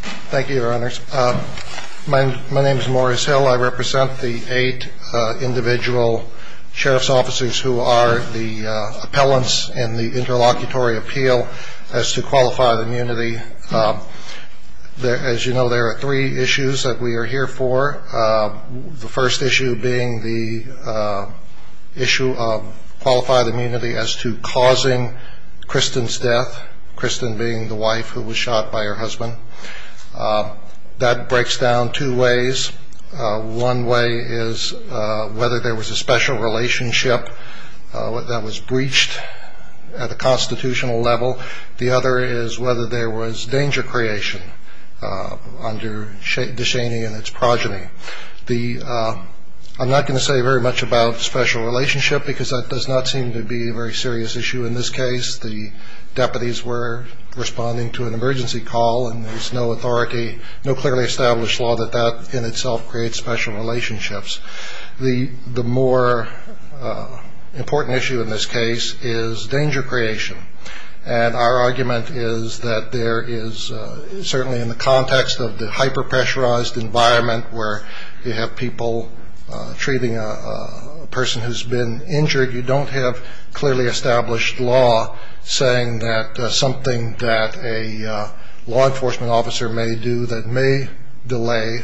Thank you, Your Honors. My name is Morris Hill. I represent the eight individual sheriff's officers who are the appellants in the Interlocutory Appeal as to Qualified Immunity. As you know, there are three issues that we are here for. The first issue being the issue of Qualified Immunity as to causing Kristen's death, Kristen being the wife who was shot by her husband. That breaks down two ways. One way is whether there was a special relationship that was breached at the constitutional level. The other is whether there was danger creation under DeShaney and its progeny. I'm not going to say very much about special relationship because that does not seem to be a very serious issue in this case. The deputies were responding to an emergency call and there's no authority, no clearly established law that that in itself creates special relationships. The more important issue in this case is danger creation. And our argument is that there is certainly in the context of the hyper-pressurized environment where you have people treating a person who's been injured, you don't have clearly established law saying that something that a law enforcement officer may do that may delay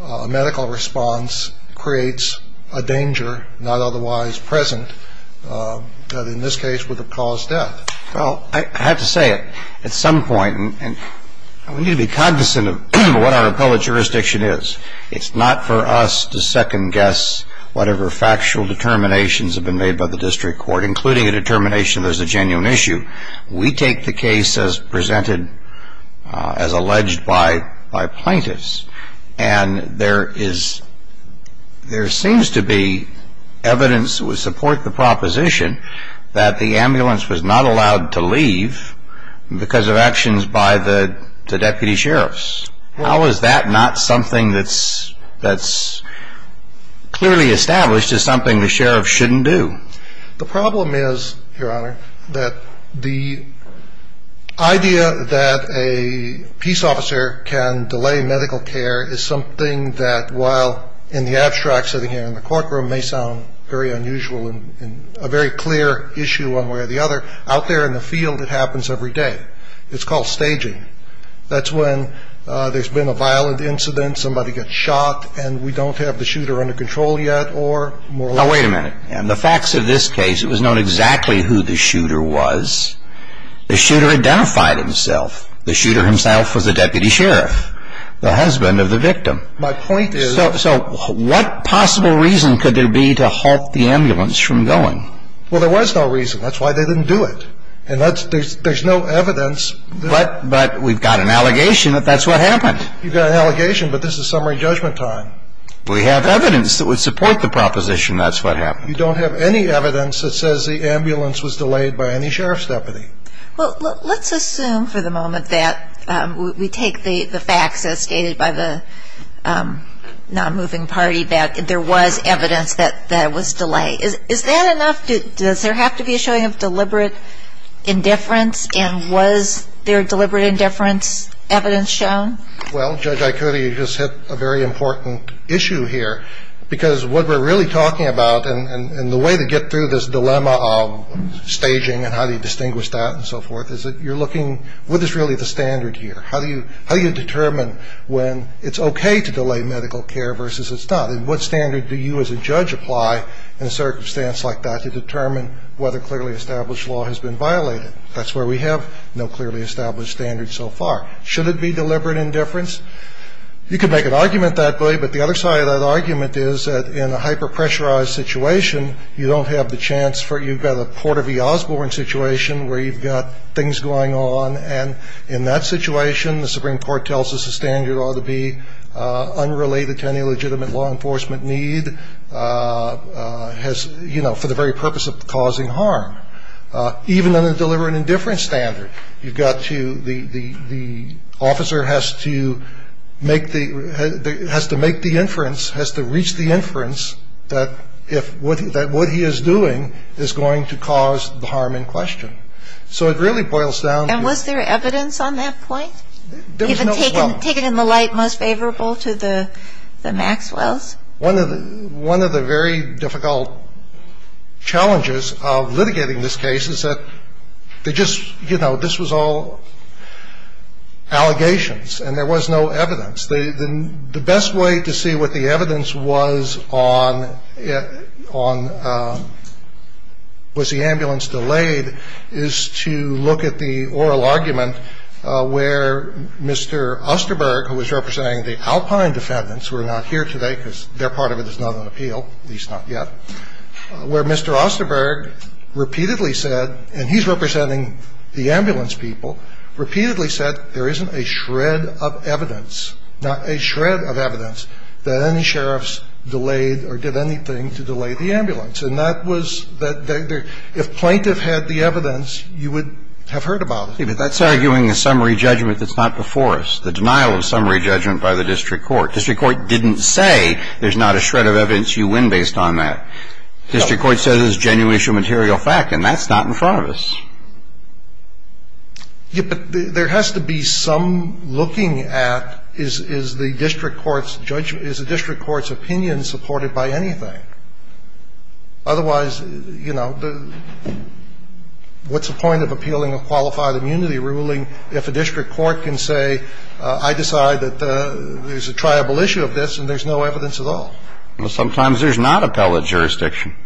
a medical response creates a danger not otherwise present that in this case would have caused death. Well, I have to say it. At some point, and we need to be cognizant of what our appellate jurisdiction is, it's not for us to second guess whatever factual determinations have been made by the district court, including a determination there's a genuine issue. We take the case as presented, as alleged by plaintiffs. And there is, there seems to be evidence that would support the proposition that the ambulance was not allowed to leave because of actions by the deputy sheriffs. How is that not something that's clearly established as something the sheriff shouldn't do? The problem is, Your Honor, that the idea that a peace officer can delay medical care is something that, while in the abstract sitting here in the courtroom may sound very unusual and a very clear issue one way or the other, out there in the field it happens every day. It's called staging. That's when there's been a violent incident, somebody gets shot, and we don't have the shooter under control yet or more or less. Now, wait a minute. In the facts of this case, it was known exactly who the shooter was. The shooter identified himself. The shooter himself was the deputy sheriff, the husband of the victim. My point is... So what possible reason could there be to halt the ambulance from going? Well, there was no reason. That's why they didn't do it. And there's no evidence... But we've got an allegation that that's what happened. You've got an allegation, but this is summary judgment time. We have evidence that would support the proposition that's what happened. You don't have any evidence that says the ambulance was delayed by any sheriff's deputy. Well, let's assume for the moment that we take the facts as stated by the non-moving party that there was evidence that it was delayed. Is that enough? Does there have to be a showing of deliberate indifference? And was there deliberate indifference evidence shown? Well, Judge Aikori, you just hit a very important issue here. Because what we're really talking about, and the way to get through this dilemma of staging and how do you distinguish that and so forth, is that you're looking, what is really the standard here? How do you determine when it's okay to delay medical care versus it's not? And what standard do you as a judge apply in a circumstance like that to determine whether clearly established law has been violated? That's where we have no clearly established standard so far. Should it be deliberate indifference? You could make an argument that way, but the other side of that argument is that in a hyper-pressurized situation, you don't have the chance for you've got a Porter v. Osborne situation where you've got things going on. And in that situation, the Supreme Court tells us the standard ought to be unrelated to any legitimate law enforcement need, has, you know, for the very purpose of causing harm. Even on a deliberate indifference standard, you've got to, the officer has to make the, has to make the inference, has to reach the inference that if, that what he is doing is going to cause the harm in question. So it really boils down to. And was there evidence on that point? There was no evidence. Even taken in the light most favorable to the Maxwells? One of the very difficult challenges of litigating this case is that they just, you know, this was all allegations and there was no evidence. The best way to see what the evidence was on was the ambulance delayed is to look at the oral argument where Mr. Osterberg, who was representing the Alpine defendants who are not here today because their part of it is not on appeal, at least not yet, where Mr. Osterberg repeatedly said, and he's representing the ambulance people, repeatedly said there isn't a shred of evidence, not a shred of evidence, that any sheriffs delayed or did anything to delay the ambulance. And that was, if plaintiff had the evidence, you would have heard about it. But that's arguing a summary judgment that's not before us, the denial of summary judgment by the district court. District court didn't say there's not a shred of evidence, you win based on that. District court says it's a genuine issue, material fact, and that's not in front of us. Yes, but there has to be some looking at is the district court's judgment, is the district court's opinion supported by anything. Otherwise, you know, what's the point of appealing a qualified immunity ruling if a district court can say I decide that there's a triable issue of this and there's no evidence at all? Well, sometimes there's not appellate jurisdiction.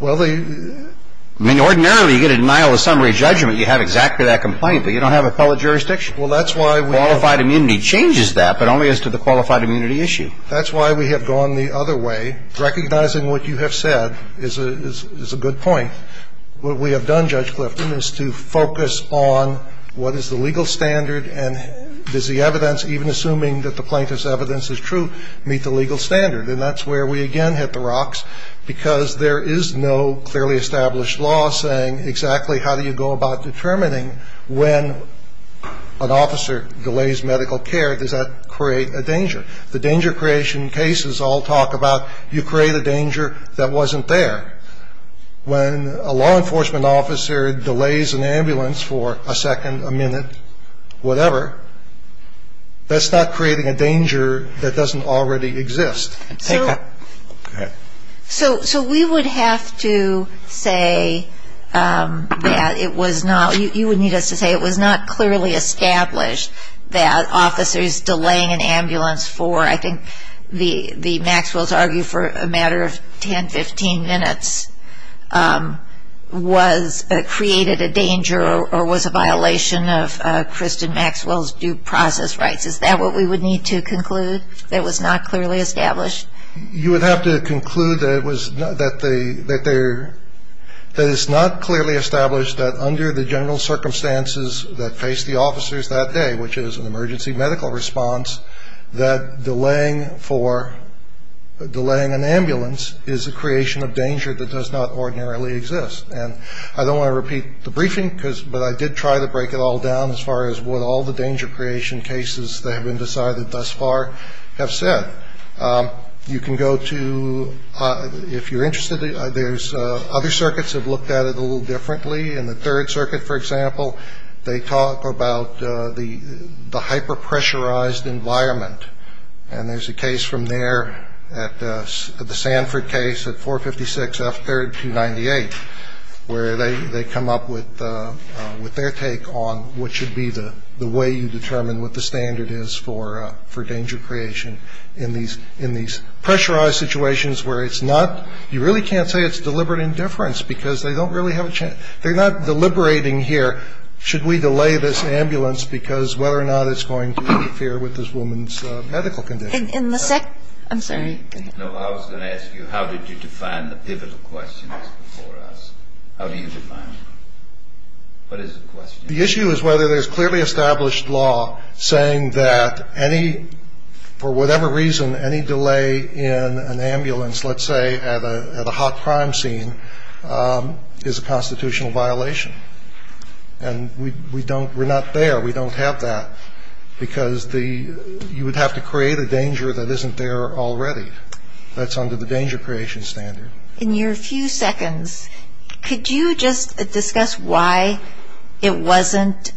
Well, the – I mean, ordinarily you get a denial of summary judgment, you have exactly that complaint, but you don't have appellate jurisdiction. Well, that's why we – Qualified immunity changes that, but only as to the qualified immunity issue. That's why we have gone the other way. Recognizing what you have said is a good point. What we have done, Judge Clifton, is to focus on what is the legal standard and does the evidence, even assuming that the plaintiff's evidence is true, meet the legal standard. And that's where we again hit the rocks, because there is no clearly established law saying exactly how do you go about determining when an officer delays medical care, does that create a danger? The danger creation cases all talk about you create a danger that wasn't there. When a law enforcement officer delays an ambulance for a second, a minute, whatever, that's not creating a danger that doesn't already exist. So we would have to say that it was not – you would need us to say it was not clearly established that officers delaying an ambulance for, I think, the – Maxwell's argument for a matter of 10, 15 minutes was – created a danger or was a violation of Kristen Maxwell's due process rights. Is that what we would need to conclude? That it was not clearly established? You would have to conclude that it was – that there – that it's not clearly established that under the general circumstances that face the officers that day, which is an emergency medical response, that delaying for – delaying an ambulance is a creation of danger that does not ordinarily exist. And I don't want to repeat the briefing, but I did try to break it all down as far as what all the danger creation cases that have been decided thus far have said. You can go to – if you're interested, there's – other circuits have looked at it a little differently. In the Third Circuit, for example, they talk about the hyper-pressurized environment. And there's a case from there at – the Sanford case at 456 F. 3rd, 298, where they come up with their take on what should be the way you determine what the standard is for danger creation in these pressurized situations where it's not – you really can't say it's deliberate indifference because they don't really have a – they're not deliberating here, should we delay this ambulance because whether or not it's going to interfere with this woman's medical condition. In the second – I'm sorry. No, I was going to ask you, how did you define the pivotal questions before us? How do you define them? What is the question? The issue is whether there's clearly established law saying that any – for whatever reason, any delay in an ambulance, let's say, at a hot crime scene is a constitutional violation. And we don't – we're not there. We don't have that because the – you would have to create a danger that isn't there already. That's under the danger creation standard. In your few seconds, could you just discuss why it wasn't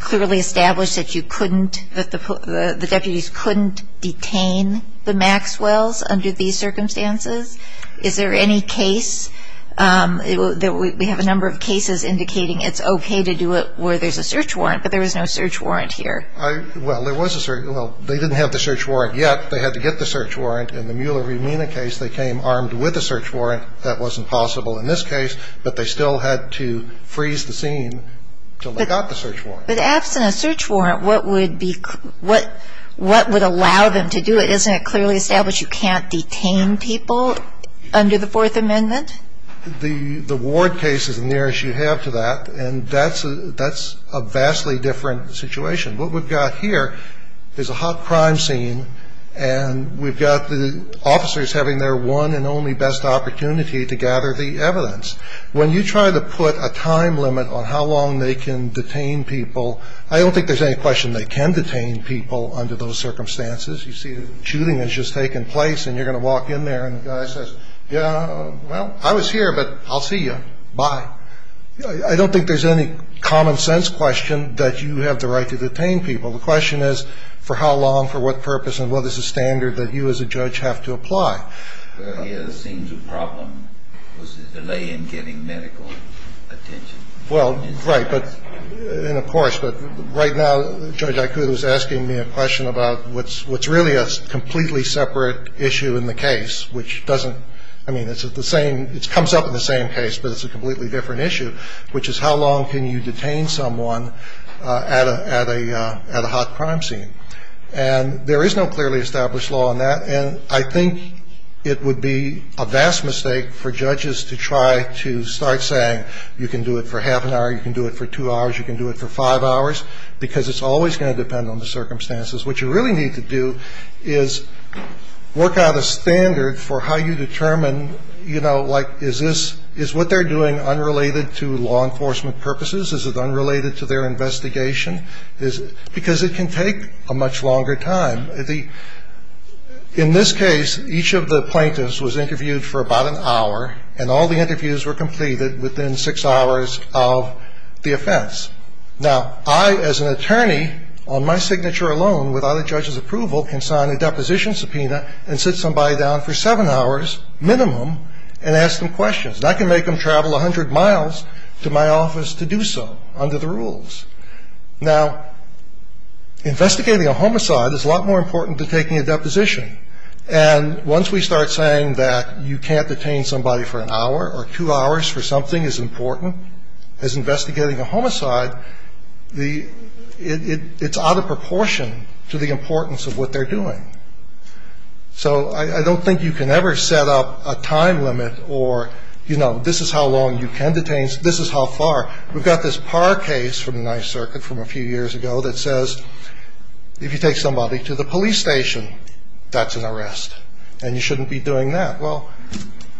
clearly established that you couldn't – that the deputies couldn't detain the Maxwells under these circumstances? Is there any case – we have a number of cases indicating it's okay to do it where there's a search warrant, but there was no search warrant here. Well, there was a – well, they didn't have the search warrant yet. They had to get the search warrant. In the Mueller-Rumina case, they came armed with a search warrant. That wasn't possible in this case, but they still had to freeze the scene until they got the search warrant. But absent a search warrant, what would be – what would allow them to do it? Isn't it clearly established you can't detain people under the Fourth Amendment? The ward case is as near as you have to that, and that's a vastly different situation. What we've got here is a hot crime scene, and we've got the officers having their one and only best opportunity to gather the evidence. When you try to put a time limit on how long they can detain people, I don't think there's any question they can detain people under those circumstances. You see the shooting has just taken place, and you're going to walk in there, and the guy says, yeah, well, I was here, but I'll see you. Bye. I don't think there's any common-sense question that you have the right to detain people. The question is for how long, for what purpose, and what is the standard that you as a judge have to apply? Well, right. And, of course, but right now, Judge Aikuda is asking me a question about what's really a completely separate issue in the case, which doesn't – I mean, it's the same – it comes up in the same case, but it's a completely different issue, which is how long can you detain someone at a hot crime scene? And there is no clearly established law on that, and I think you can't it would be a vast mistake for judges to try to start saying you can do it for half an hour, you can do it for two hours, you can do it for five hours, because it's always going to depend on the circumstances. What you really need to do is work out a standard for how you determine, you know, like is this – is what they're doing unrelated to law enforcement purposes? Is it unrelated to their investigation? Because it can take a much longer time. In this case, each of the plaintiffs was interviewed for about an hour, and all the interviews were completed within six hours of the offense. Now, I, as an attorney, on my signature alone, without a judge's approval, can sign a deposition subpoena and sit somebody down for seven hours minimum and ask them questions. And I can make them travel 100 miles to my office to do so under the rules. Now, investigating a homicide is a lot more important than taking a deposition. And once we start saying that you can't detain somebody for an hour or two hours for something as important as investigating a homicide, the – it's out of proportion to the importance of what they're doing. So I don't think you can ever set up a time limit or, you know, this is how long you can detain, this is how far. We've got this Parr case from the Ninth Circuit from a few years ago that says if you take somebody to the police station, that's an arrest and you shouldn't be doing that. Well,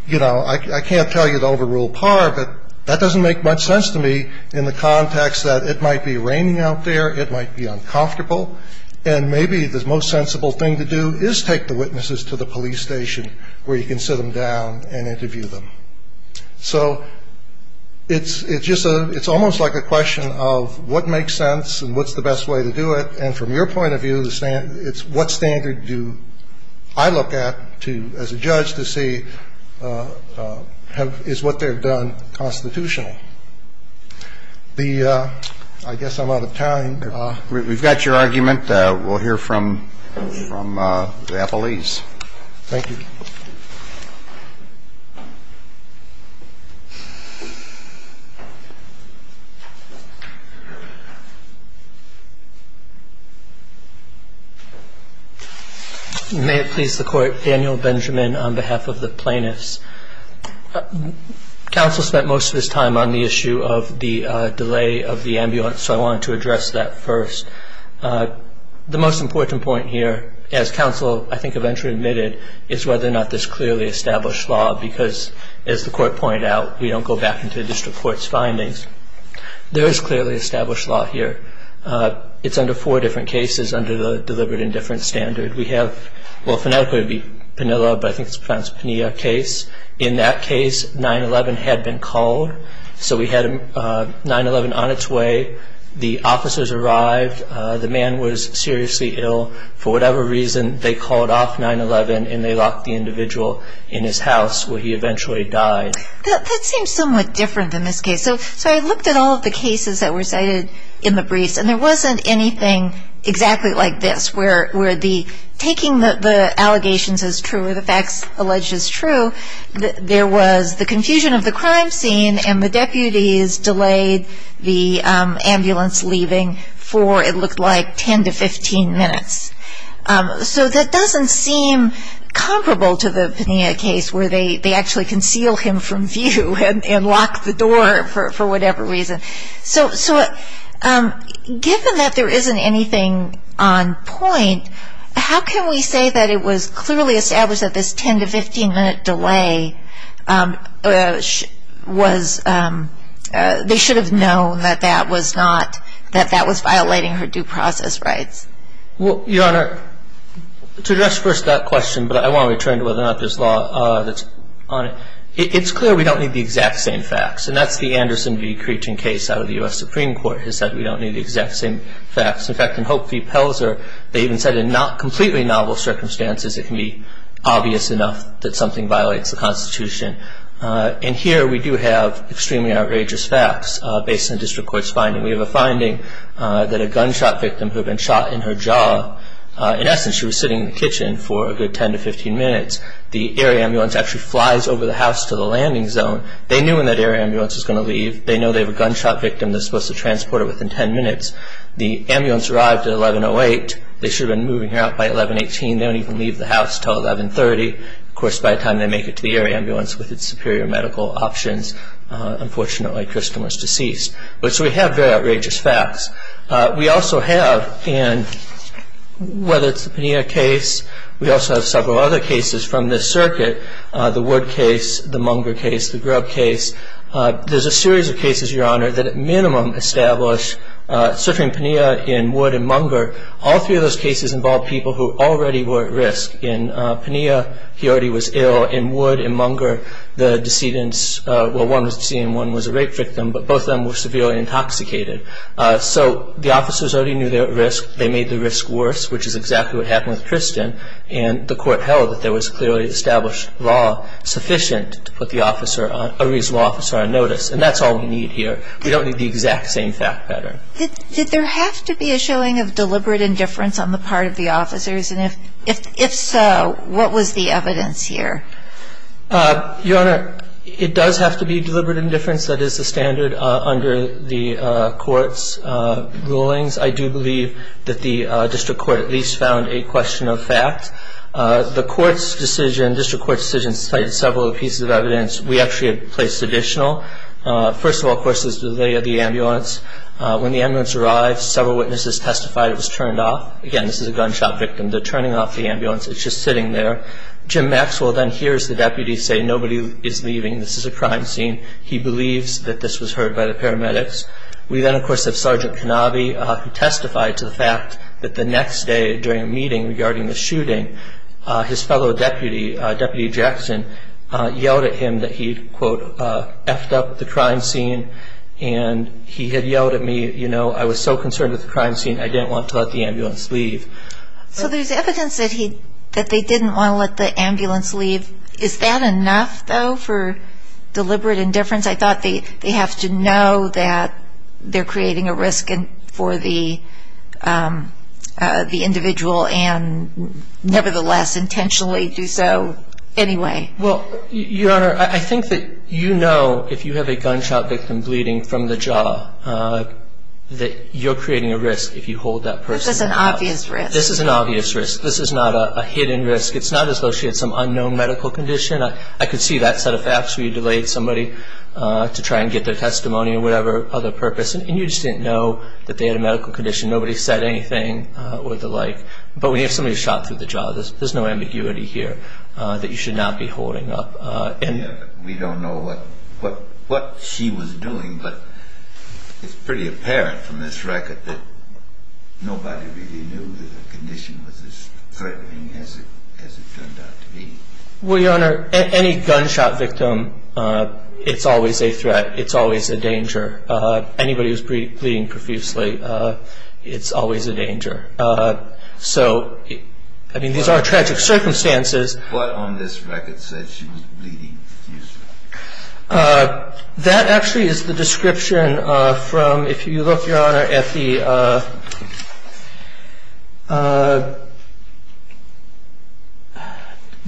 you know, I can't tell you to overrule Parr, but that doesn't make much sense to me in the context that it might be raining out there, it might be uncomfortable, and maybe the most sensible thing to do is take the witnesses to the police station where you can sit them down and interview them. So it's just a – it's almost like a question of what makes sense and what's the best way to do it. And from your point of view, it's what standard do I look at to – as a judge to see is what they've done constitutional. The – I guess I'm out of time. We've got your argument. We'll hear from the appellees. Thank you. May it please the Court. Daniel Benjamin on behalf of the plaintiffs. Counsel spent most of his time on the issue of the delay of the ambulance, so I wanted to address that first. The most important point here, as counsel I think eventually admitted, is whether or not there's clearly established law, because as the Court pointed out, we don't go back into the district court's findings. There is clearly established law here. It's under four different cases under the deliberate indifference standard. We have – well, phonetically it would be Penilla, but I think it's perhaps Penilla case. In that case, 9-11 had been called. So we had 9-11 on its way. The officers arrived. The man was seriously ill. For whatever reason, they called off 9-11 and they locked the individual in his house, where he eventually died. That seems somewhat different in this case. So I looked at all of the cases that were cited in the briefs, and there wasn't anything exactly like this, where the taking the allegations as true or the facts alleged as true, there was the confusion of the crime scene and the deputies delayed the ambulance leaving for, it looked like, 10 to 15 minutes. So that doesn't seem comparable to the Penilla case, where they actually conceal him from view and lock the door for whatever reason. So given that there isn't anything on point, how can we say that it was clearly established that this 10 to 15 minute delay was, they should have known that that was not, that that was violating her due process rights? Well, Your Honor, to address first that question, but I want to return to whether or not there's law that's on it, it's clear we don't need the exact same facts. And that's the Anderson v. Creeching case out of the U.S. Supreme Court, has said we don't need the exact same facts. In fact, in Hope v. Pelzer, they even said in not completely novel circumstances it can be obvious enough that something violates the Constitution. And here we do have extremely outrageous facts based on the district court's finding. We have a finding that a gunshot victim who had been shot in her jaw, in essence she was sitting in the kitchen for a good 10 to 15 minutes. The air ambulance actually flies over the house to the landing zone. They knew when that air ambulance was going to leave. They know they have a gunshot victim that's supposed to transport her within 10 minutes. The ambulance arrived at 1108. They should have been moving her out by 1118. They don't even leave the house until 1130. Of course, by the time they make it to the air ambulance with its superior medical options, unfortunately Kristen was deceased. So we have very outrageous facts. We also have, whether it's the Pena case, we also have several other cases from this circuit, the Wood case, the Munger case, the Grubb case. There's a series of cases, Your Honor, that at minimum establish, certainly in Pena, in Wood and Munger, all three of those cases involved people who already were at risk. In Pena, he already was ill. In Wood and Munger, the decedents, well, one was a decedent and one was a rape victim, but both of them were severely intoxicated. So the officers already knew they were at risk. They made the risk worse, which is exactly what happened with Kristen, and the court held that there was clearly established law sufficient to put a reasonable officer on notice, and that's all we need here. We don't need the exact same fact pattern. Did there have to be a showing of deliberate indifference on the part of the officers, and if so, what was the evidence here? Your Honor, it does have to be deliberate indifference. That is the standard under the court's rulings. I do believe that the district court at least found a question of fact. The court's decision, district court's decision, cited several pieces of evidence we actually had placed additional. First of all, of course, is the delay of the ambulance. When the ambulance arrived, several witnesses testified it was turned off. Again, this is a gunshot victim. They're turning off the ambulance. It's just sitting there. Jim Maxwell then hears the deputy say, nobody is leaving. This is a crime scene. He believes that this was heard by the paramedics. We then, of course, have Sergeant Canabi, who testified to the fact that the next day during a meeting regarding the shooting, his fellow deputy, Deputy Jackson, yelled at him that he, quote, effed up the crime scene. And he had yelled at me, you know, I was so concerned with the crime scene, I didn't want to let the ambulance leave. So there's evidence that they didn't want to let the ambulance leave. Is that enough, though, for deliberate indifference? I thought they have to know that they're creating a risk for the individual and nevertheless intentionally do so anyway. Well, Your Honor, I think that you know, if you have a gunshot victim bleeding from the jaw, that you're creating a risk if you hold that person. But this is an obvious risk. This is an obvious risk. This is not a hidden risk. It's not as though she had some unknown medical condition. I could see that set of facts where you delayed somebody to try and get their testimony or whatever other purpose, and you just didn't know that they had a medical condition. Nobody said anything or the like. But when you have somebody shot through the jaw, there's no ambiguity here that you should not be holding up. We don't know what she was doing, but it's pretty apparent from this record that nobody really knew the condition was as threatening as it turned out to be. Well, Your Honor, any gunshot victim, it's always a threat. It's always a danger. So, I mean, these are tragic circumstances. What on this record said she was bleeding? That actually is the description from, if you look, Your Honor, at the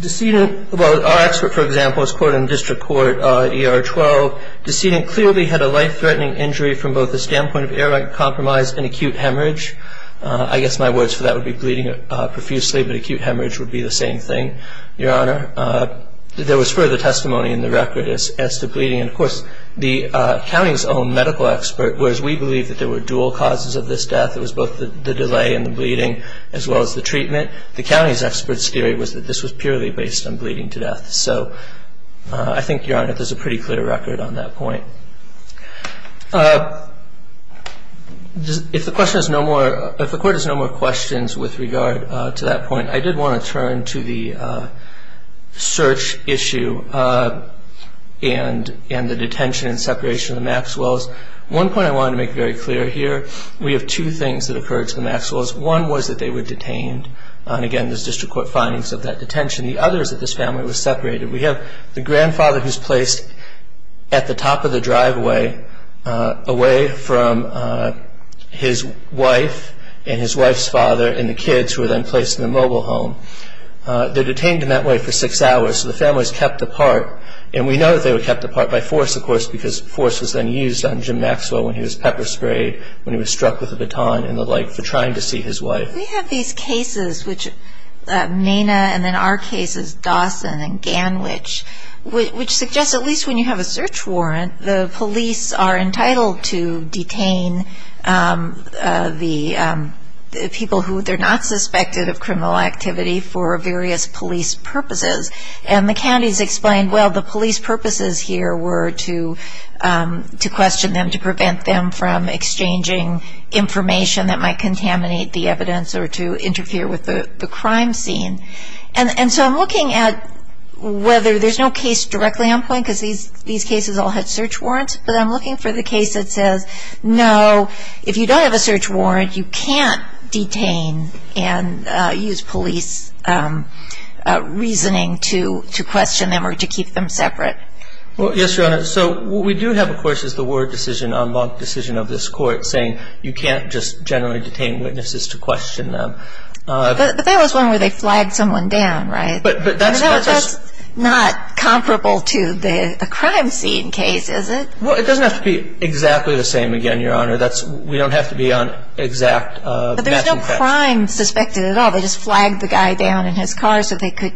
decedent. Well, our expert, for example, is quoted in district court ER-12. Decedent clearly had a life-threatening injury from both the standpoint of I guess my words for that would be bleeding profusely, but acute hemorrhage would be the same thing, Your Honor. There was further testimony in the record as to bleeding. And, of course, the county's own medical expert, whereas we believe that there were dual causes of this death, it was both the delay and the bleeding as well as the treatment, the county's expert's theory was that this was purely based on bleeding to death. So I think, Your Honor, there's a pretty clear record on that point. If the court has no more questions with regard to that point, I did want to turn to the search issue and the detention and separation of the Maxwells. One point I wanted to make very clear here, we have two things that occurred to the Maxwells. One was that they were detained. And, again, there's district court findings of that detention. The other is that this family was separated. We have the grandfather who's placed at the top of the driveway away from his wife and his wife's father and the kids who were then placed in the mobile home. They're detained in that way for six hours. So the family was kept apart. And we know that they were kept apart by force, of course, because force was then used on Jim Maxwell when he was pepper sprayed, when he was struck with a baton and the like for trying to see his wife. We have these cases, which Mena and then our cases, Dawson and Ganwich, which suggest at least when you have a search warrant, the police are entitled to detain the people who they're not suspected of criminal activity for various police purposes. And the counties explained, well, the police purposes here were to question them, to prevent them from exchanging information that might contaminate the evidence or to interfere with the crime scene. And so I'm looking at whether there's no case directly on point, because these cases all had search warrants, but I'm looking for the case that says, no, if you don't have a search warrant, you can't detain and use police reasoning to question them or to keep them separate. Well, yes, Your Honor. So what we do have, of course, is the word decision, unblocked decision of this court, saying you can't just generally detain witnesses to question them. But that was one where they flagged someone down, right? But that's not comparable to the crime scene case, is it? Well, it doesn't have to be exactly the same again, Your Honor. We don't have to be on exact matching facts. But there's no crime suspected at all. They just flagged the guy down in his car so they could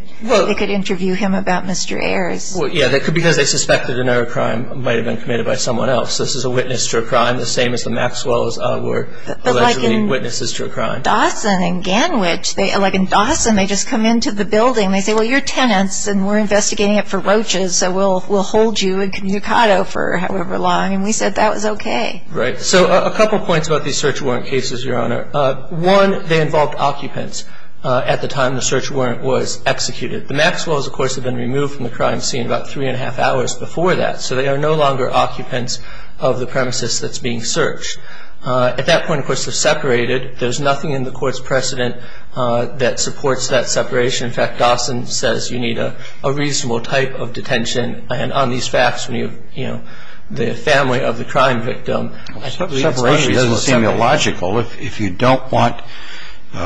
interview him about Mr. Ayers. Yeah, because they suspected another crime might have been committed by someone else. This is a witness to a crime, the same as the Maxwells were allegedly witnesses to a crime. But like in Dawson and Ganwich, like in Dawson, they just come into the building, and they say, well, you're tenants, and we're investigating it for roaches, so we'll hold you incommunicado for however long. And we said that was okay. Right. So a couple points about these search warrant cases, Your Honor. One, they involved occupants at the time the search warrant was executed. The Maxwells, of course, had been removed from the crime scene about three-and-a-half hours before that. So they are no longer occupants of the premises that's being searched. At that point, of course, they're separated. There's nothing in the court's precedent that supports that separation. In fact, Dawson says you need a reasonable type of detention. And on these facts, you know, the family of the crime victim. Separation doesn't seem illogical. If you don't want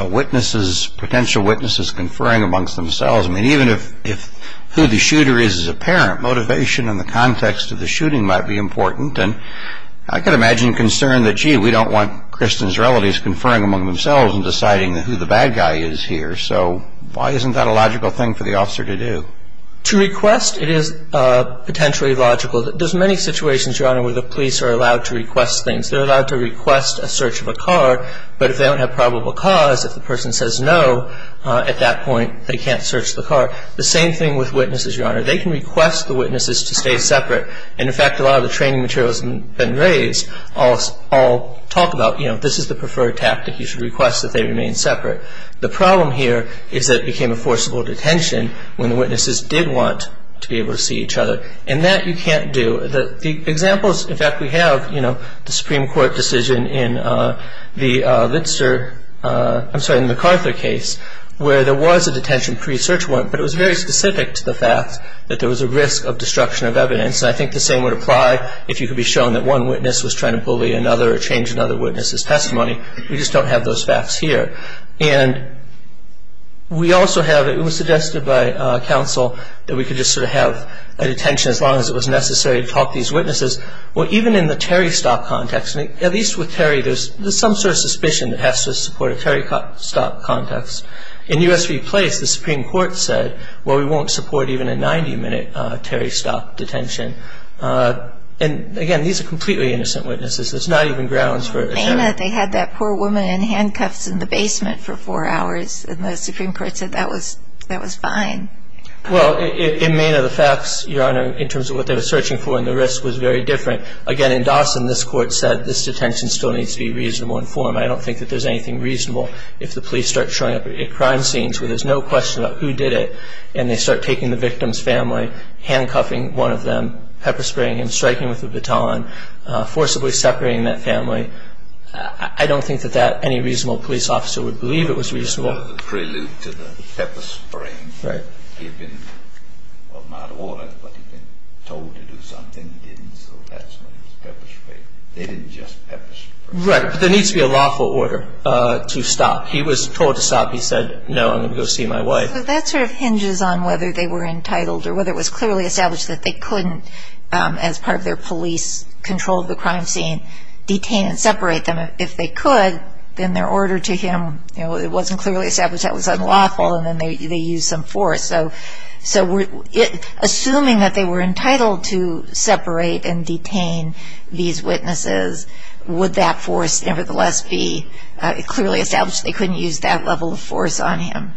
witnesses, potential witnesses, conferring amongst themselves, I mean, even if who the shooter is is apparent, motivation in the context of the shooting might be important. And I can imagine concern that, gee, we don't want Kristen's relatives conferring among themselves and deciding who the bad guy is here. So why isn't that a logical thing for the officer to do? To request, it is potentially logical. There's many situations, Your Honor, where the police are allowed to request things. They're allowed to request a search of a car, but if they don't have probable cause, if the person says no, at that point, they can't search the car. The same thing with witnesses, Your Honor. They can request the witnesses to stay separate. And, in fact, a lot of the training materials that have been raised all talk about, you know, this is the preferred tactic. You should request that they remain separate. The problem here is that it became a forcible detention when the witnesses did want to be able to see each other. And that you can't do. The examples, in fact, we have, you know, the Supreme Court decision in the Litzer, I'm sorry, in the MacArthur case where there was a detention pre-search warrant, but it was very specific to the fact that there was a risk of destruction of evidence. And I think the same would apply if you could be shown that one witness was trying to bully another or change another witness's testimony. We just don't have those facts here. And we also have, it was suggested by counsel that we could just sort of have a detention as long as it was necessary to talk to these witnesses. Well, even in the Terry Stock context, at least with Terry, there's some sort of suspicion that has to support a Terry Stock context. In U.S. v. Place, the Supreme Court said, well, we won't support even a 90-minute Terry Stock detention. And, again, these are completely innocent witnesses. There's not even grounds for it. In MENA, they had that poor woman in handcuffs in the basement for four hours, and the Supreme Court said that was fine. Well, in MENA, the facts, Your Honor, in terms of what they were searching for and the risk was very different. Again, in Dawson, this Court said this detention still needs to be reasonably informed. I don't think that there's anything reasonable if the police start showing up at crime scenes where there's no question about who did it, and they start taking the victim's family, handcuffing one of them, pepper-spraying him, striking him with a baton, forcibly separating that family. I don't think that any reasonable police officer would believe it was reasonable. The prelude to the pepper-spraying. Right. He had been, well, not ordered, but he'd been told to do something. He didn't, so that's when he was pepper-sprayed. They didn't just pepper-spray. Right, but there needs to be a lawful order to stop. He was told to stop. He said, no, I'm going to go see my wife. That sort of hinges on whether they were entitled or whether it was clearly established that they couldn't, as part of their police control of the crime scene, detain and separate them. If they could, then their order to him, it wasn't clearly established that was unlawful, and then they used some force. So assuming that they were entitled to separate and detain these witnesses, would that force nevertheless be clearly established they couldn't use that level of force on him?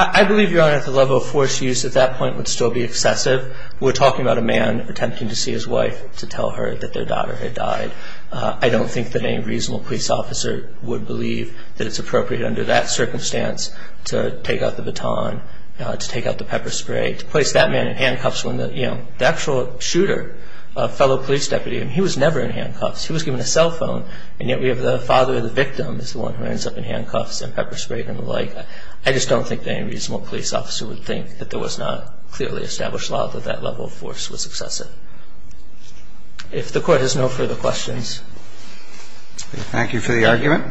I believe, Your Honor, that the level of force used at that point would still be excessive. We're talking about a man attempting to see his wife to tell her that their daughter had died. I don't think that any reasonable police officer would believe that it's appropriate, under that circumstance, to take out the baton, to take out the pepper spray, to place that man in handcuffs when the actual shooter, a fellow police deputy, he was never in handcuffs. He was given a cell phone, and yet we have the father of the victim as the one who ends up in handcuffs and pepper-sprayed and the like. I just don't think that any reasonable police officer would think that there was not clearly established law that that level of force was excessive. If the Court has no further questions. Thank you for the argument.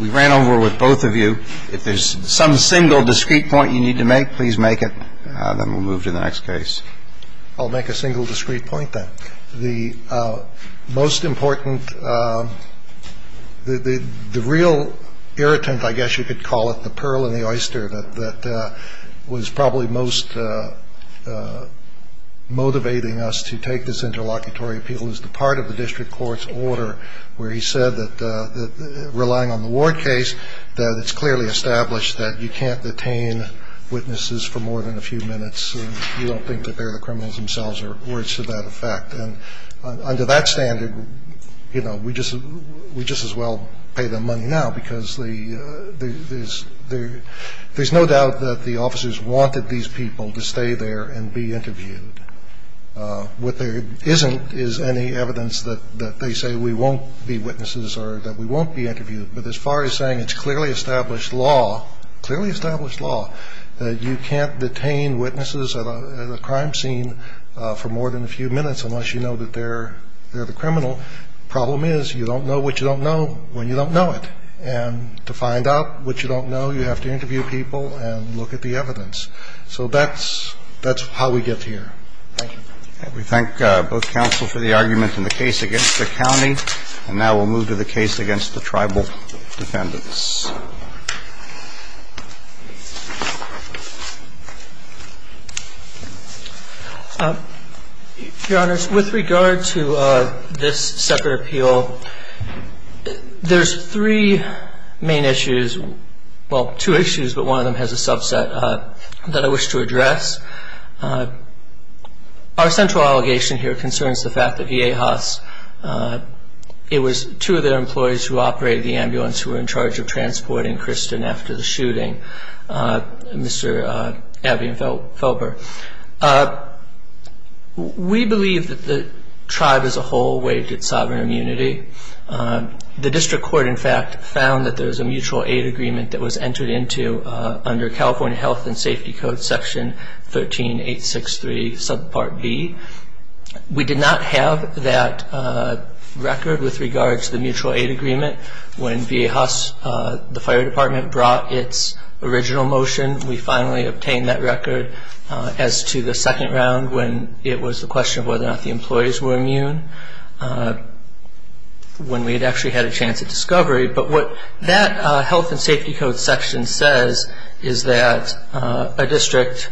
We ran over with both of you. If there's some single discrete point you need to make, please make it, and then we'll move to the next case. I'll make a single discrete point, then. The most important, the real irritant, I guess you could call it, the pearl and the oyster that was probably most motivating us to take this interlocutory appeal is the part of the district court's order where he said that relying on the Ward case, that it's clearly established that you can't detain witnesses for more than a few minutes, and you don't think that they're the criminals themselves or words to that effect. And under that standard, you know, we just as well pay them money now because there's no doubt that the officers wanted these people to stay there and be interviewed. What there isn't is any evidence that they say we won't be witnesses or that we won't be interviewed. But as far as saying it's clearly established law, clearly established law, that you can't detain witnesses at a crime scene for more than a few minutes unless you know that they're the criminal, the problem is you don't know what you don't know when you don't know it. And to find out what you don't know, you have to interview people and look at the evidence. So that's how we get here. Thank you. We thank both counsel for the argument in the case against the county. And now we'll move to the case against the tribal defendants. Your Honors, with regard to this separate appeal, there's three main issues, well, two issues, but one of them has a subset that I wish to address. Our central allegation here concerns the fact that E.A. Haas, it was two of their employees who operated the ambulance who were in charge of transportation. We believe that the tribe as a whole waived its sovereign immunity. The district court, in fact, found that there was a mutual aid agreement that was entered into under California Health and Safety Code Section 13863 subpart B. We did not have that record with regard to the mutual aid agreement when E.A. Haas, the fire department, brought its original motion. We finally obtained that record as to the second round when it was the question of whether or not the employees were immune, when we had actually had a chance of discovery. But what that Health and Safety Code Section says is that a district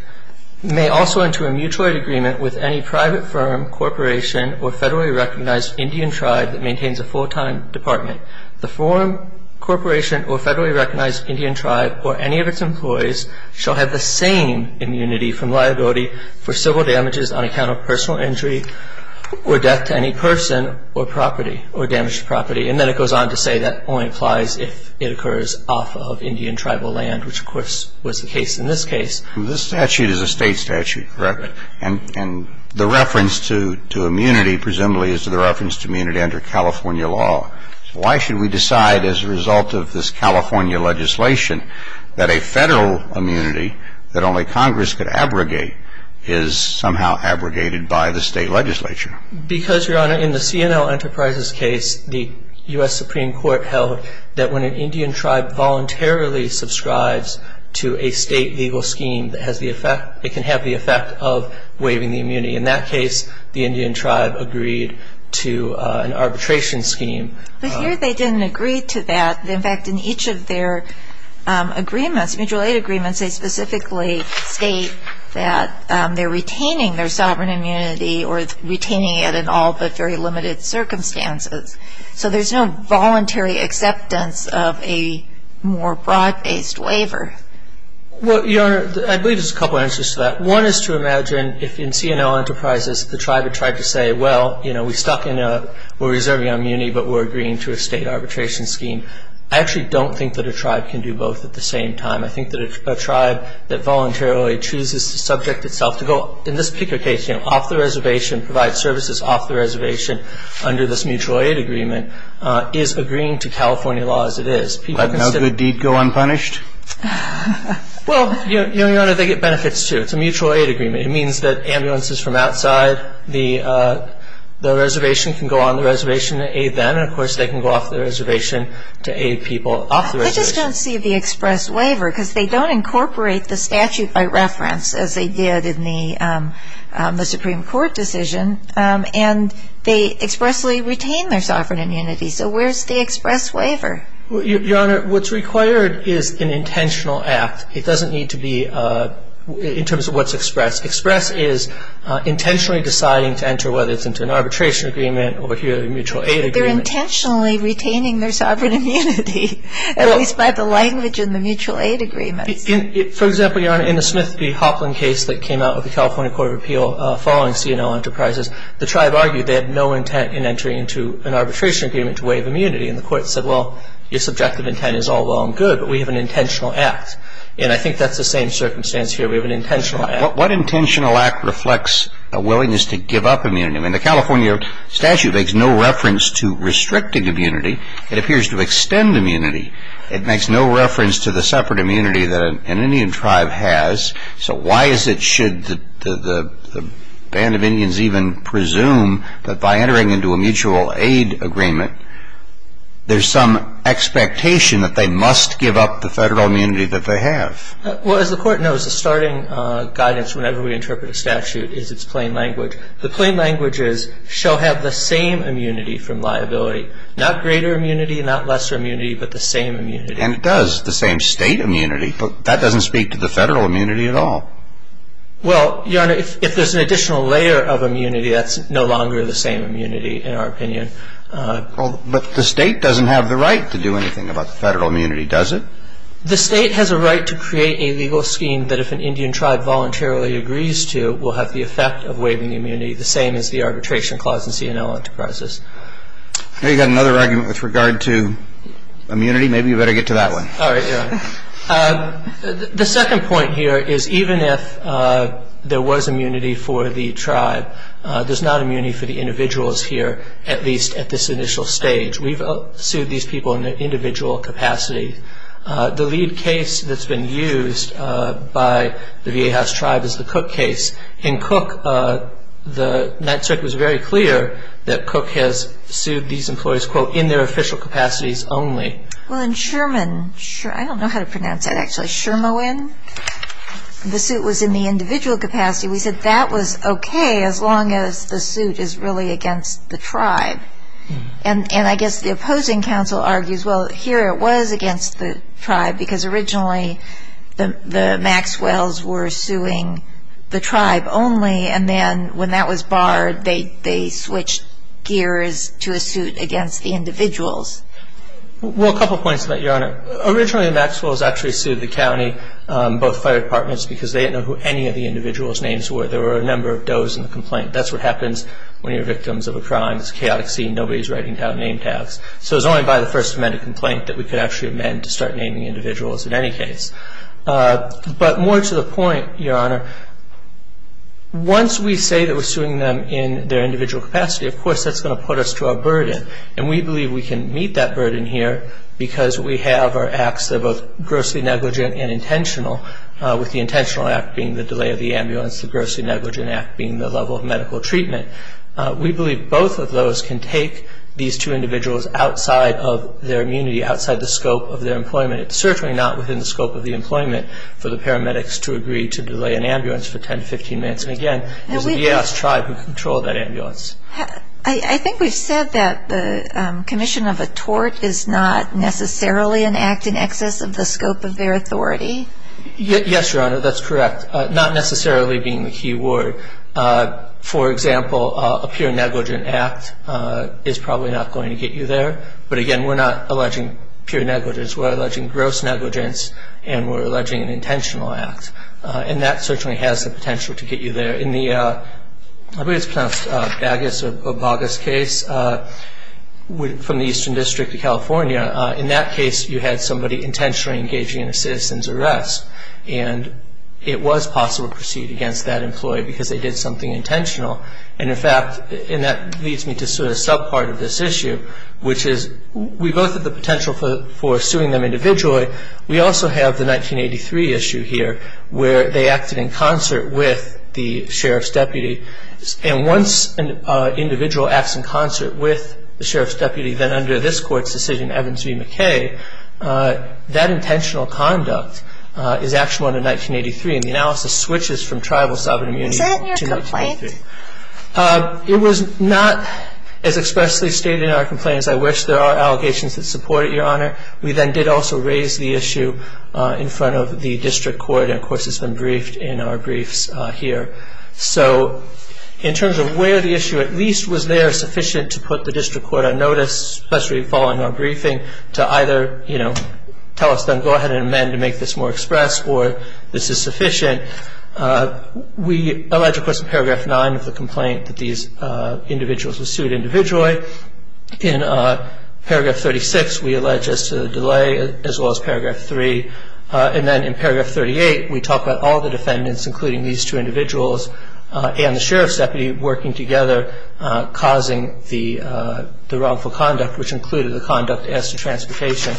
may also enter a mutual aid agreement with any private firm, corporation, or federally recognized Indian tribe that maintains a full-time department. The firm, corporation, or federally recognized Indian tribe or any of its employees shall have the same immunity from liability for civil damages on account of personal injury or death to any person or property or damaged property. And then it goes on to say that only applies if it occurs off of Indian tribal land, which, of course, was the case in this case. This statute is a State statute, correct? Correct. And the reference to immunity presumably is to the reference to immunity under California law. Why should we decide as a result of this California legislation that a federal immunity that only Congress could abrogate is somehow abrogated by the State legislature? Because, Your Honor, in the C&L Enterprises case, the U.S. Supreme Court held that when an Indian tribe voluntarily subscribes to a State legal scheme, it can have the effect of waiving the immunity. In that case, the Indian tribe agreed to an arbitration scheme. But here they didn't agree to that. In fact, in each of their agreements, mutual aid agreements, they specifically state that they're retaining their sovereign immunity or retaining it in all but very limited circumstances. So there's no voluntary acceptance of a more broad-based waiver. Well, Your Honor, I believe there's a couple answers to that. One is to imagine if in C&L Enterprises the tribe had tried to say, well, you know, we stuck in a we're reserving our immunity, but we're agreeing to a State arbitration scheme, I actually don't think that a tribe can do both at the same time. I think that if a tribe that voluntarily chooses to subject itself to go, in this particular case, you know, off the reservation, provide services off the reservation under this mutual aid agreement, is agreeing to California law as it is. Let no good deed go unpunished? Well, Your Honor, they get benefits, too. It's a mutual aid agreement. It means that ambulances from outside the reservation can go on the reservation to aid them. And, of course, they can go off the reservation to aid people off the reservation. I just don't see the express waiver, because they don't incorporate the statute by reference, as they did in the Supreme Court decision, and they expressly retain their sovereign immunity. So where's the express waiver? Your Honor, what's required is an intentional act. It doesn't need to be in terms of what's expressed. Express is intentionally deciding to enter, whether it's into an arbitration agreement or a mutual aid agreement. But they're intentionally retaining their sovereign immunity, at least by the language in the mutual aid agreements. For example, Your Honor, in the Smith v. Hopland case that came out of the California Court of Appeal following C&O Enterprises, the tribe argued they had no intent in entering into an arbitration agreement to waive immunity. And the Court said, well, your subjective intent is all well and good, but we have an intentional act. And I think that's the same circumstance here. We have an intentional act. What intentional act reflects a willingness to give up immunity? I mean, the California statute makes no reference to restricting immunity. It appears to extend immunity. It makes no reference to the separate immunity that an Indian tribe has. So why is it, should the band of Indians even presume that by entering into a mutual aid agreement, they have a right to do anything about the federal immunity that they have? Well, as the Court knows, the starting guidance whenever we interpret a statute is its plain language. The plain language is, shall have the same immunity from liability. Not greater immunity, not lesser immunity, but the same immunity. And it does, the same State immunity. But that doesn't speak to the federal immunity at all. Well, Your Honor, if there's an additional layer of immunity, that's no longer the same immunity in our opinion. But the State doesn't have the right to do anything about the federal immunity, does it? The State has a right to create a legal scheme that if an Indian tribe voluntarily agrees to, will have the effect of waiving immunity, the same as the Arbitration Clause in C&L Enterprises. Now you've got another argument with regard to immunity. Maybe you better get to that one. All right, Your Honor. The second point here is even if there was immunity for the tribe, there's not going to be a case of individuals here, at least at this initial stage. We've sued these people in their individual capacity. The lead case that's been used by the V.A. House tribe is the Cook case. In Cook, the Ninth Circuit was very clear that Cook has sued these employees, quote, in their official capacities only. Well, in Sherman, I don't know how to pronounce that, actually. Shermoin? The suit was in the individual capacity. We said that was okay as long as the suit is really against the tribe. And I guess the opposing counsel argues, well, here it was against the tribe because originally the Maxwells were suing the tribe only, and then when that was barred, they switched gears to a suit against the individuals. Well, a couple points to that, Your Honor. Originally, the Maxwells actually sued the county, both fire departments, because they didn't know who any of the individuals' names were. There were a number of does in the complaint. That's what happens when you're victims of a crime. It's a chaotic scene. Nobody's writing down name tabs. So it was only by the first amended complaint that we could actually amend to start naming individuals in any case. But more to the point, Your Honor, once we say that we're suing them in their individual capacity, of course that's going to put us to our burden. And we believe we can meet that burden here because we have our acts that are both grossly negligent and intentional, with the intentional act being the delay of the ambulance, the grossly negligent act being the level of medical treatment. We believe both of those can take these two individuals outside of their immunity, outside the scope of their employment. It's certainly not within the scope of the employment for the paramedics to agree to delay an ambulance for 10 to 15 minutes. And, again, it was the Eos tribe who controlled that ambulance. I think we've said that the commission of a tort is not necessarily an act in the nexus of the scope of their authority. Yes, Your Honor, that's correct. Not necessarily being the key word. For example, a pure negligent act is probably not going to get you there. But, again, we're not alleging pure negligence. We're alleging gross negligence, and we're alleging an intentional act. And that certainly has the potential to get you there. In the Bagas case from the Eastern District of California, in that case you had somebody intentionally engaging in a citizen's arrest, and it was possible to proceed against that employee because they did something intentional. And, in fact, that leads me to sort of the sub-part of this issue, which is we both have the potential for suing them individually. We also have the 1983 issue here where they acted in concert with the sheriff's And once an individual acts in concert with the sheriff's deputy, then under this court's decision, Evans v. McKay, that intentional conduct is actually under 1983, and the analysis switches from tribal sovereign immunity to not guilty. Is that in your complaint? It was not as expressly stated in our complaint as I wish. There are allegations that support it, Your Honor. We then did also raise the issue in front of the district court, and, of course, it's been briefed in our briefs here. So in terms of where the issue at least was there sufficient to put the district court on notice, especially following our briefing, to either, you know, tell us then go ahead and amend to make this more express or this is sufficient. We allege, of course, in Paragraph 9 of the complaint that these individuals were sued individually. In Paragraph 36, we allege as to the delay, as well as Paragraph 3. And then in Paragraph 38, we talk about all the defendants, including these two individuals and the sheriff's deputy, working together, causing the wrongful conduct, which included the conduct as to transportation.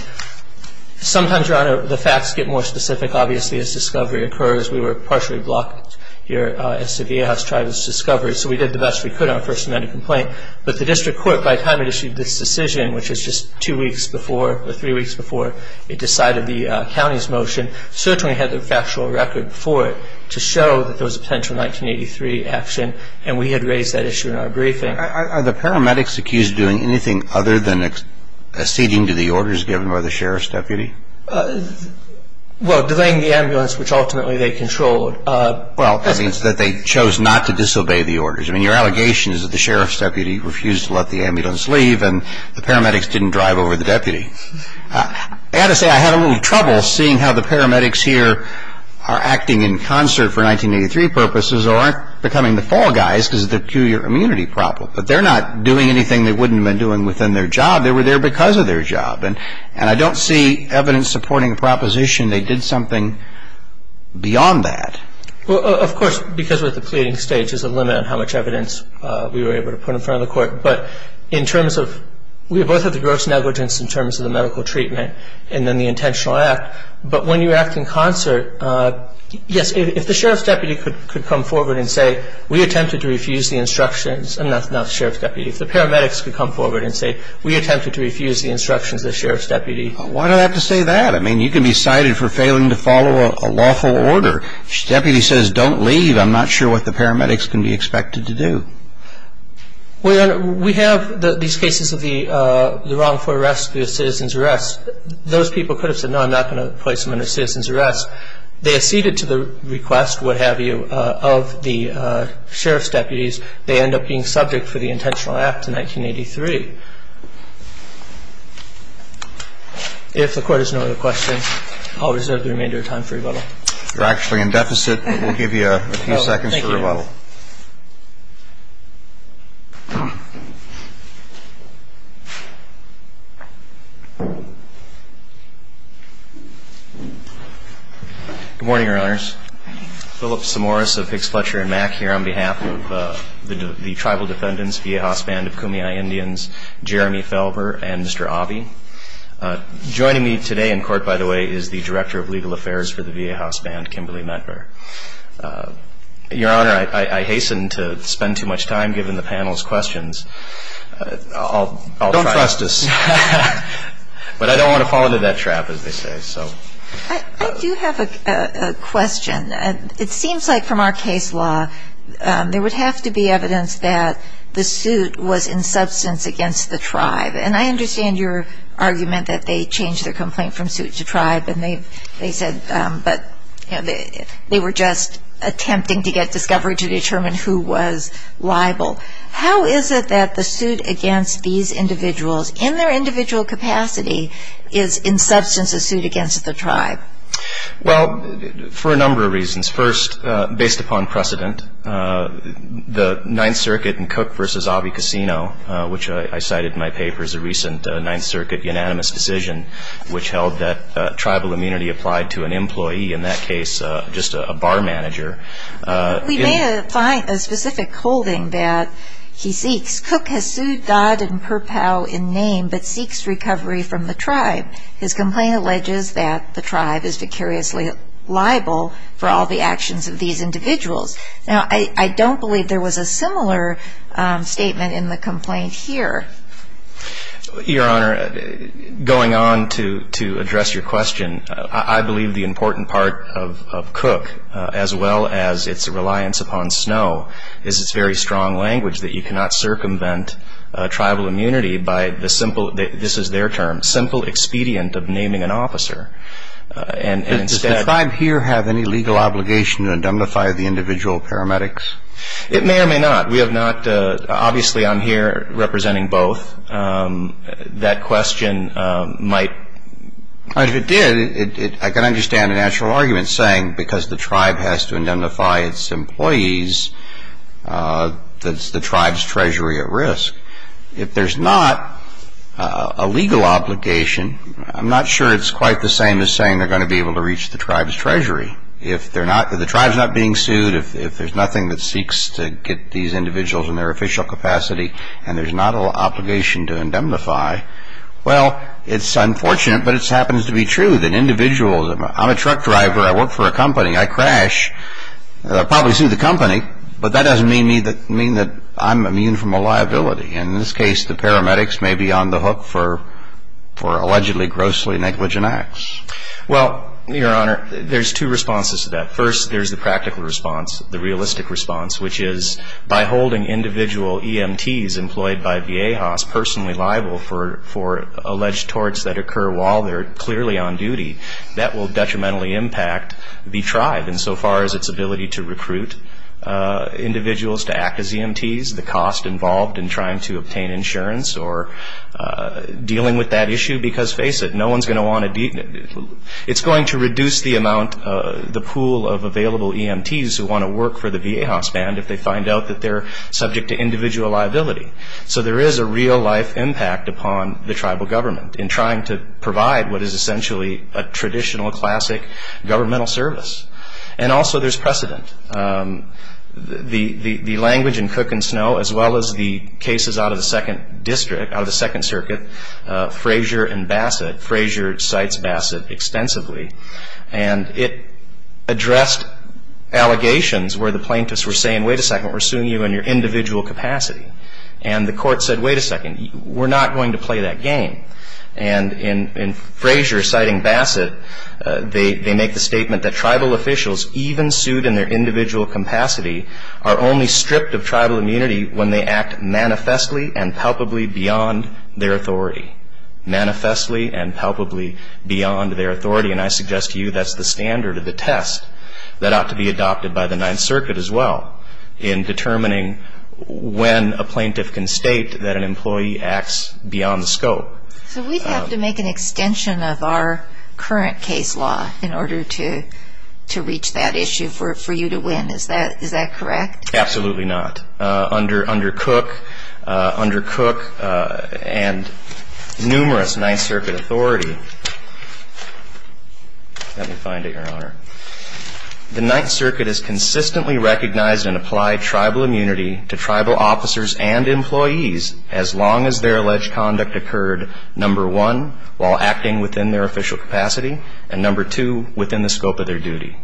Sometimes, Your Honor, the facts get more specific, obviously, as discovery occurs. We were partially blocked here as to the A-House tribe's discovery, so we did the best we could on our First Amendment complaint. But the district court, by the time it issued this decision, which was just two weeks before or three weeks before it decided the county's motion, certainly had the factual record for it to show that there was a potential And we had raised that issue in our briefing. Are the paramedics accused of doing anything other than acceding to the orders given by the sheriff's deputy? Well, delaying the ambulance, which ultimately they controlled. Well, that means that they chose not to disobey the orders. I mean, your allegation is that the sheriff's deputy refused to let the ambulance leave and the paramedics didn't drive over the deputy. I've got to say, I had a little trouble seeing how the paramedics here are acting in concert for 1983 purposes or aren't becoming the fall guys because of the two-year immunity problem. But they're not doing anything they wouldn't have been doing within their job. They were there because of their job. And I don't see evidence supporting a proposition they did something beyond that. Well, of course, because we're at the pleading stage, there's a limit on how much evidence we were able to put in front of the court. But in terms of – we both have the gross negligence in terms of the medical treatment and then the intentional act. But when you act in concert, yes, if the sheriff's deputy could come forward and say, we attempted to refuse the instructions – and that's not the sheriff's deputy – if the paramedics could come forward and say, we attempted to refuse the instructions of the sheriff's deputy. Why do I have to say that? I mean, you can be cited for failing to follow a lawful order. If the deputy says, don't leave, I'm not sure what the paramedics can be expected to do. Well, Your Honor, we have these cases of the wrongful arrest, the citizen's arrest. Those people could have said, no, I'm not going to place them under citizen's arrest. They acceded to the request, what have you, of the sheriff's deputies. They end up being subject for the intentional act in 1983. If the Court has no other questions, I'll reserve the remainder of time for rebuttal. You're actually in deficit, but we'll give you a few seconds for rebuttal. Good morning, Your Honors. Philip Samoris of Hicks, Fletcher & Mack here on behalf of the Tribal Defendants, V.A. House Band of Kumeyaay Indians, Jeremy Felber, and Mr. Abhi. Joining me today in court, by the way, is the Director of Legal Affairs for the V.A. House Band, Kimberly Medgar. Your Honor, I hasten to spend too much time giving the panel's questions. I'll try. Don't trust us. But I don't want to fall into that trap, as they say. I do have a question. It seems like from our case law, there would have to be evidence that the suit was in substance against the tribe. And I understand your argument that they changed their complaint from suit to tribe. And they said that they were just attempting to get discovery to determine who was liable. How is it that the suit against these individuals in their individual capacity is in substance a suit against the tribe? Well, for a number of reasons. First, based upon precedent, the Ninth Circuit in Cook v. Abhi Casino, which I cited in my paper as a recent Ninth Circuit unanimous decision, which held that tribal immunity applied to an employee, in that case just a bar manager. We may find a specific holding that he seeks. Cook has sued Dodd and Purpow in name, but seeks recovery from the tribe. His complaint alleges that the tribe is vicariously liable for all the actions of these individuals. Now, I don't believe there was a similar statement in the complaint here. Your Honor, going on to address your question, I believe the important part of Cook, as well as its reliance upon Snow, is its very strong language that you cannot circumvent tribal immunity by the simple, this is their term, simple expedient of naming an officer. Does the tribe here have any legal obligation to indemnify the individual paramedics? It may or may not. We have not. Obviously, I'm here representing both. That question might... If it did, I can understand a natural argument saying because the tribe has to indemnify its employees, that's the tribe's treasury at risk. If there's not a legal obligation, I'm not sure it's quite the same as saying they're going to be able to reach the tribe's treasury. If the tribe's not being sued, if there's nothing that seeks to get these individuals in their official capacity, and there's not an obligation to indemnify, well, it's unfortunate, but it happens to be true that individuals... I'm a truck driver. I work for a company. I crash. I'll probably sue the company, but that doesn't mean that I'm immune from a liability. In this case, the paramedics may be on the hook for allegedly grossly negligent acts. Well, Your Honor, there's two responses to that. First, there's the practical response, the realistic response, which is by holding individual EMTs employed by Viejas personally liable for alleged torts that occur while they're clearly on duty, that will detrimentally impact the tribe insofar as its ability to recruit individuals to act as EMTs, the cost involved in trying to obtain insurance or dealing with that issue because, face it, no one's going to want to be... It's going to reduce the amount, the pool of available EMTs who want to work for the Viejas band if they find out that they're subject to individual liability. So there is a real-life impact upon the tribal government in trying to provide what is essentially a traditional, classic governmental service. And also there's precedent. The language in Cook and Snow, as well as the cases out of the Second Circuit, Frazier and Bassett, Frazier cites Bassett extensively, and it addressed allegations where the plaintiffs were saying, wait a second, we're suing you in your individual capacity. And the court said, wait a second, we're not going to play that game. And in Frazier citing Bassett, they make the statement that tribal officials, even sued in their individual capacity, are only stripped of tribal immunity when they act manifestly and palpably beyond their authority. Manifestly and palpably beyond their authority. And I suggest to you that's the standard of the test that ought to be adopted by the Ninth Circuit as well in determining when a plaintiff can state that an employee acts beyond the scope. So we'd have to make an extension of our current case law in order to reach that issue for you to win. Is that correct? Absolutely not. Under Cook and numerous Ninth Circuit authority, let me find it, Your Honor, the Ninth Circuit has consistently recognized and applied tribal immunity to tribal officers and employees as long as their alleged conduct occurred, number one, while acting within their official capacity, and number two, within the scope of their duty.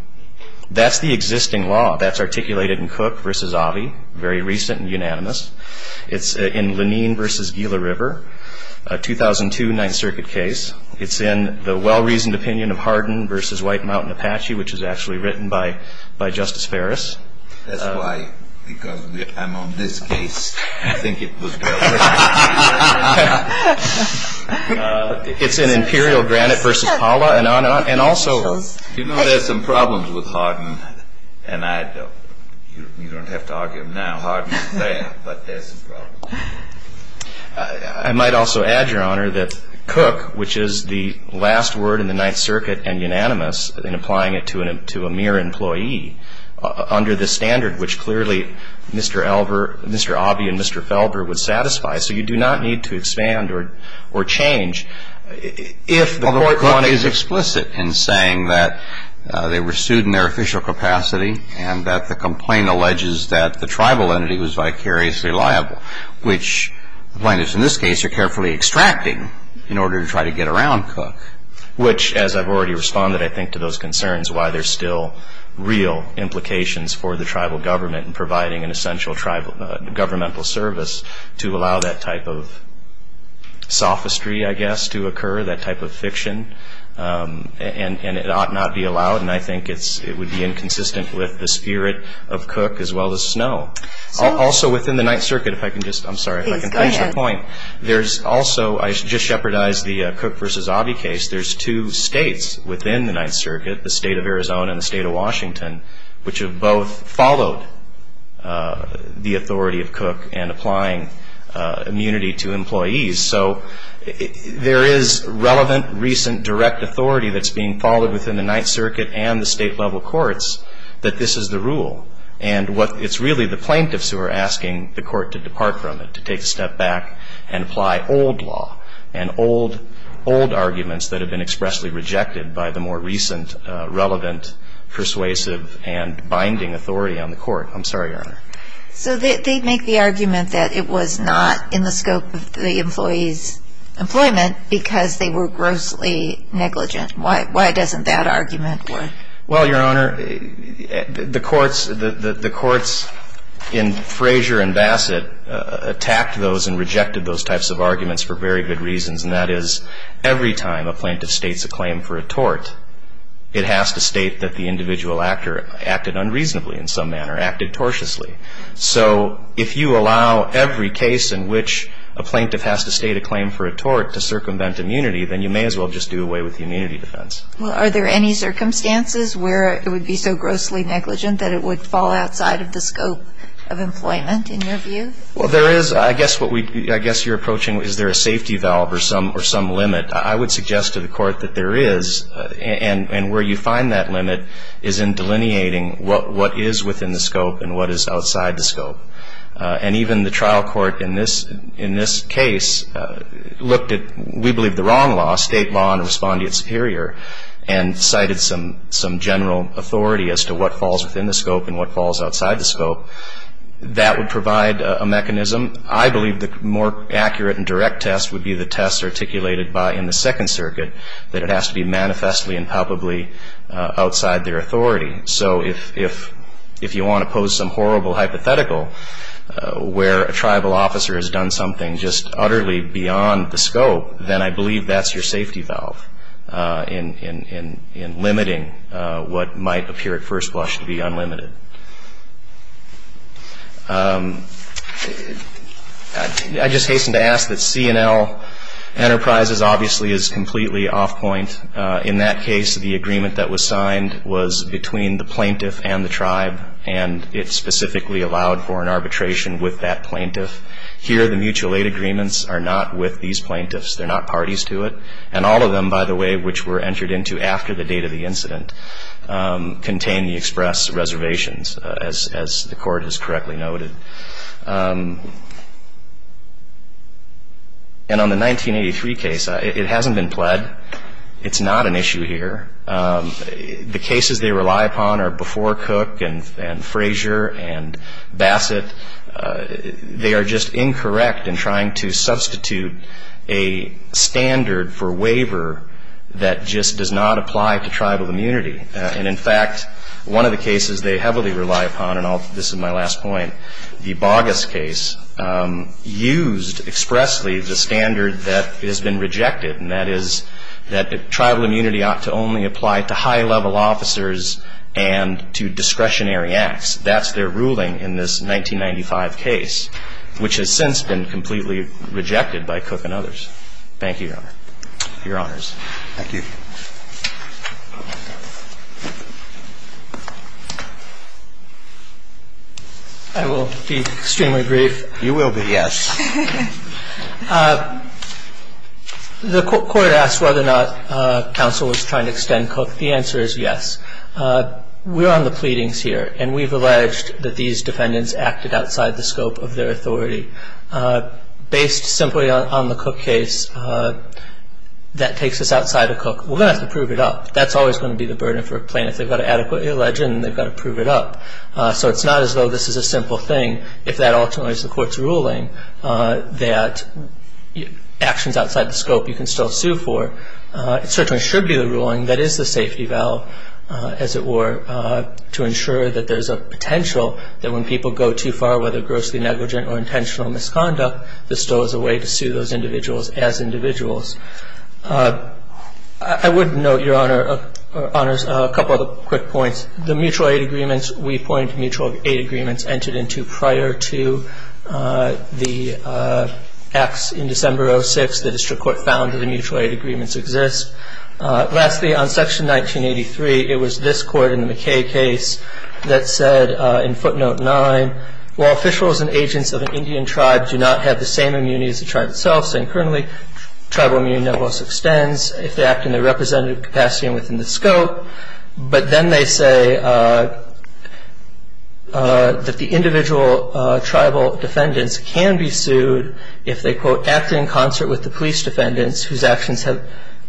That's the existing law. That's articulated in Cook v. Avi, very recent and unanimous. It's in Lenine v. Gila River, a 2002 Ninth Circuit case. It's in the well-reasoned opinion of Hardin v. White Mountain Apache, which is actually written by Justice Ferris. That's why, because I'm on this case. I think it was better. It's in Imperial Granite v. Paula. You know, there are some problems with Hardin, and you don't have to argue them now. Hardin is there, but there are some problems. I might also add, Your Honor, that Cook, which is the last word in the Ninth Circuit and unanimous in applying it to a mere employee, under this standard, which clearly Mr. Avi and Mr. Felber would satisfy. So you do not need to expand or change if the court wanted to. Well, but Cook is explicit in saying that they were sued in their official capacity and that the complaint alleges that the tribal entity was vicariously liable, which the plaintiffs in this case are carefully extracting in order to try to get around Cook. Which, as I've already responded, I think, to those concerns, why there's still real implications for the tribal government in providing an essential governmental service to allow that type of sophistry, I guess, to occur, that type of fiction, and it ought not be allowed, and I think it would be inconsistent with the spirit of Cook as well as Snow. Also, within the Ninth Circuit, if I can just finish the point, there's also, I just shepherdized the Cook v. Avi case, there's two states within the Ninth Circuit, the state of Arizona and the state of Washington, which have both followed the authority of Cook in applying immunity to employees. So there is relevant, recent, direct authority that's being followed within the Ninth Circuit and the state-level courts that this is the rule, and it's really the plaintiffs who are asking the court to depart from it, to take a step back and apply old law and old arguments that have been expressly rejected by the more recent, relevant, persuasive, and binding authority on the court. I'm sorry, Your Honor. So they make the argument that it was not in the scope of the employees' employment because they were grossly negligent. Why doesn't that argument work? Well, Your Honor, the courts in Frazier and Bassett attacked those and rejected those types of arguments for very good reasons, and that is every time a plaintiff states a claim for a tort, it has to state that the individual actor acted unreasonably in some manner, acted tortiously. So if you allow every case in which a plaintiff has to state a claim for a tort to circumvent immunity, then you may as well just do away with the immunity defense. Well, are there any circumstances where it would be so grossly negligent that it would fall outside of the scope of employment, in your view? Well, there is. I guess you're approaching is there a safety valve or some limit. I would suggest to the court that there is, and where you find that limit is in delineating what is within the scope and what is outside the scope. And even the trial court in this case looked at, we believe, the wrong law, state law in responding to its superior, and cited some general authority as to what falls within the scope and what falls outside the scope. That would provide a mechanism. I believe the more accurate and direct test would be the test articulated by, in the Second Circuit, that it has to be manifestly and palpably outside their authority. So if you want to pose some horrible hypothetical where a tribal officer has done something just utterly beyond the scope, then I believe that's your safety valve in limiting what might appear at first blush to be unlimited. I'd just hasten to ask that C&L Enterprises obviously is completely off point. In that case, the agreement that was signed was between the plaintiff and the tribe, and it specifically allowed for an arbitration with that plaintiff. Here, the mutual aid agreements are not with these plaintiffs. They're not parties to it. And all of them, by the way, which were entered into after the date of the incident, contain the express reservations, as the Court has correctly noted. And on the 1983 case, it hasn't been pled. It's not an issue here. The cases they rely upon are before Cook and Frazier and Bassett. They are just incorrect in trying to substitute a standard for waiver that just does not apply to tribal immunity. And, in fact, one of the cases they heavily rely upon, and this is my last point, the Boggess case used expressly the standard that has been rejected, and that is that tribal immunity ought to only apply to high-level officers and to discretionary acts. That's their ruling in this 1995 case, which has since been completely rejected by Cook and others. Thank you, Your Honor. Your Honors. Thank you. I will be extremely brief. You will be, yes. The Court asked whether or not counsel was trying to extend Cook. The answer is yes. We're on the pleadings here, and we've alleged that these defendants acted outside the scope of their authority. Based simply on the Cook case, that takes us outside of Cook. We're going to have to prove it up. That's always going to be the burden for plaintiffs. They've got to adequately allege it, and they've got to prove it up. So it's not as though this is a simple thing. If that alternates the Court's ruling that actions outside the scope you can still sue for, it certainly should be the ruling that is the safety valve, as it were, to ensure that there's a potential that when people go too far, whether grossly negligent or intentional misconduct, there still is a way to sue those individuals as individuals. I would note, Your Honor, a couple of quick points. The mutual aid agreements, we point to mutual aid agreements entered into prior to the acts in December of 2006. The district court found that the mutual aid agreements exist. Lastly, on Section 1983, it was this Court in the McKay case that said in footnote 9, while officials and agents of an Indian tribe do not have the same immunity as the tribe itself, saying currently tribal immunity nevertheless extends if they act in their representative capacity and within the scope, but then they say that the individual tribal defendants can be sued if they, quote, acted in concert with the police defendants whose actions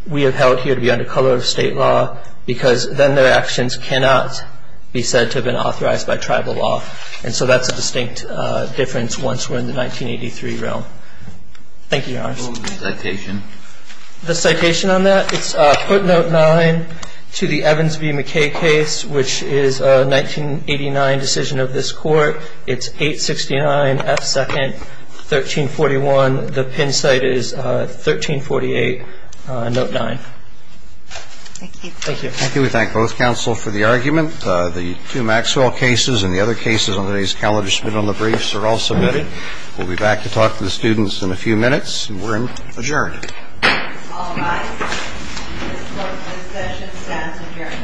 we have held here to be under color of state law because then their actions cannot be said to have been authorized by tribal law. And so that's a distinct difference once we're in the 1983 realm. Thank you, Your Honor. What was the citation? The citation on that? It's footnote 9 to the Evans v. McKay case, which is a 1989 decision of this Court. It's 869 F. 2nd, 1341. The pin site is 1348, note 9. Thank you. Thank you. Thank you. We thank both counsel for the argument. The two Maxwell cases and the other cases on today's calendar submitted on the briefs are all submitted. We'll be back to talk to the students in a few minutes, and we're adjourned. All rise. This court's session stands adjourned.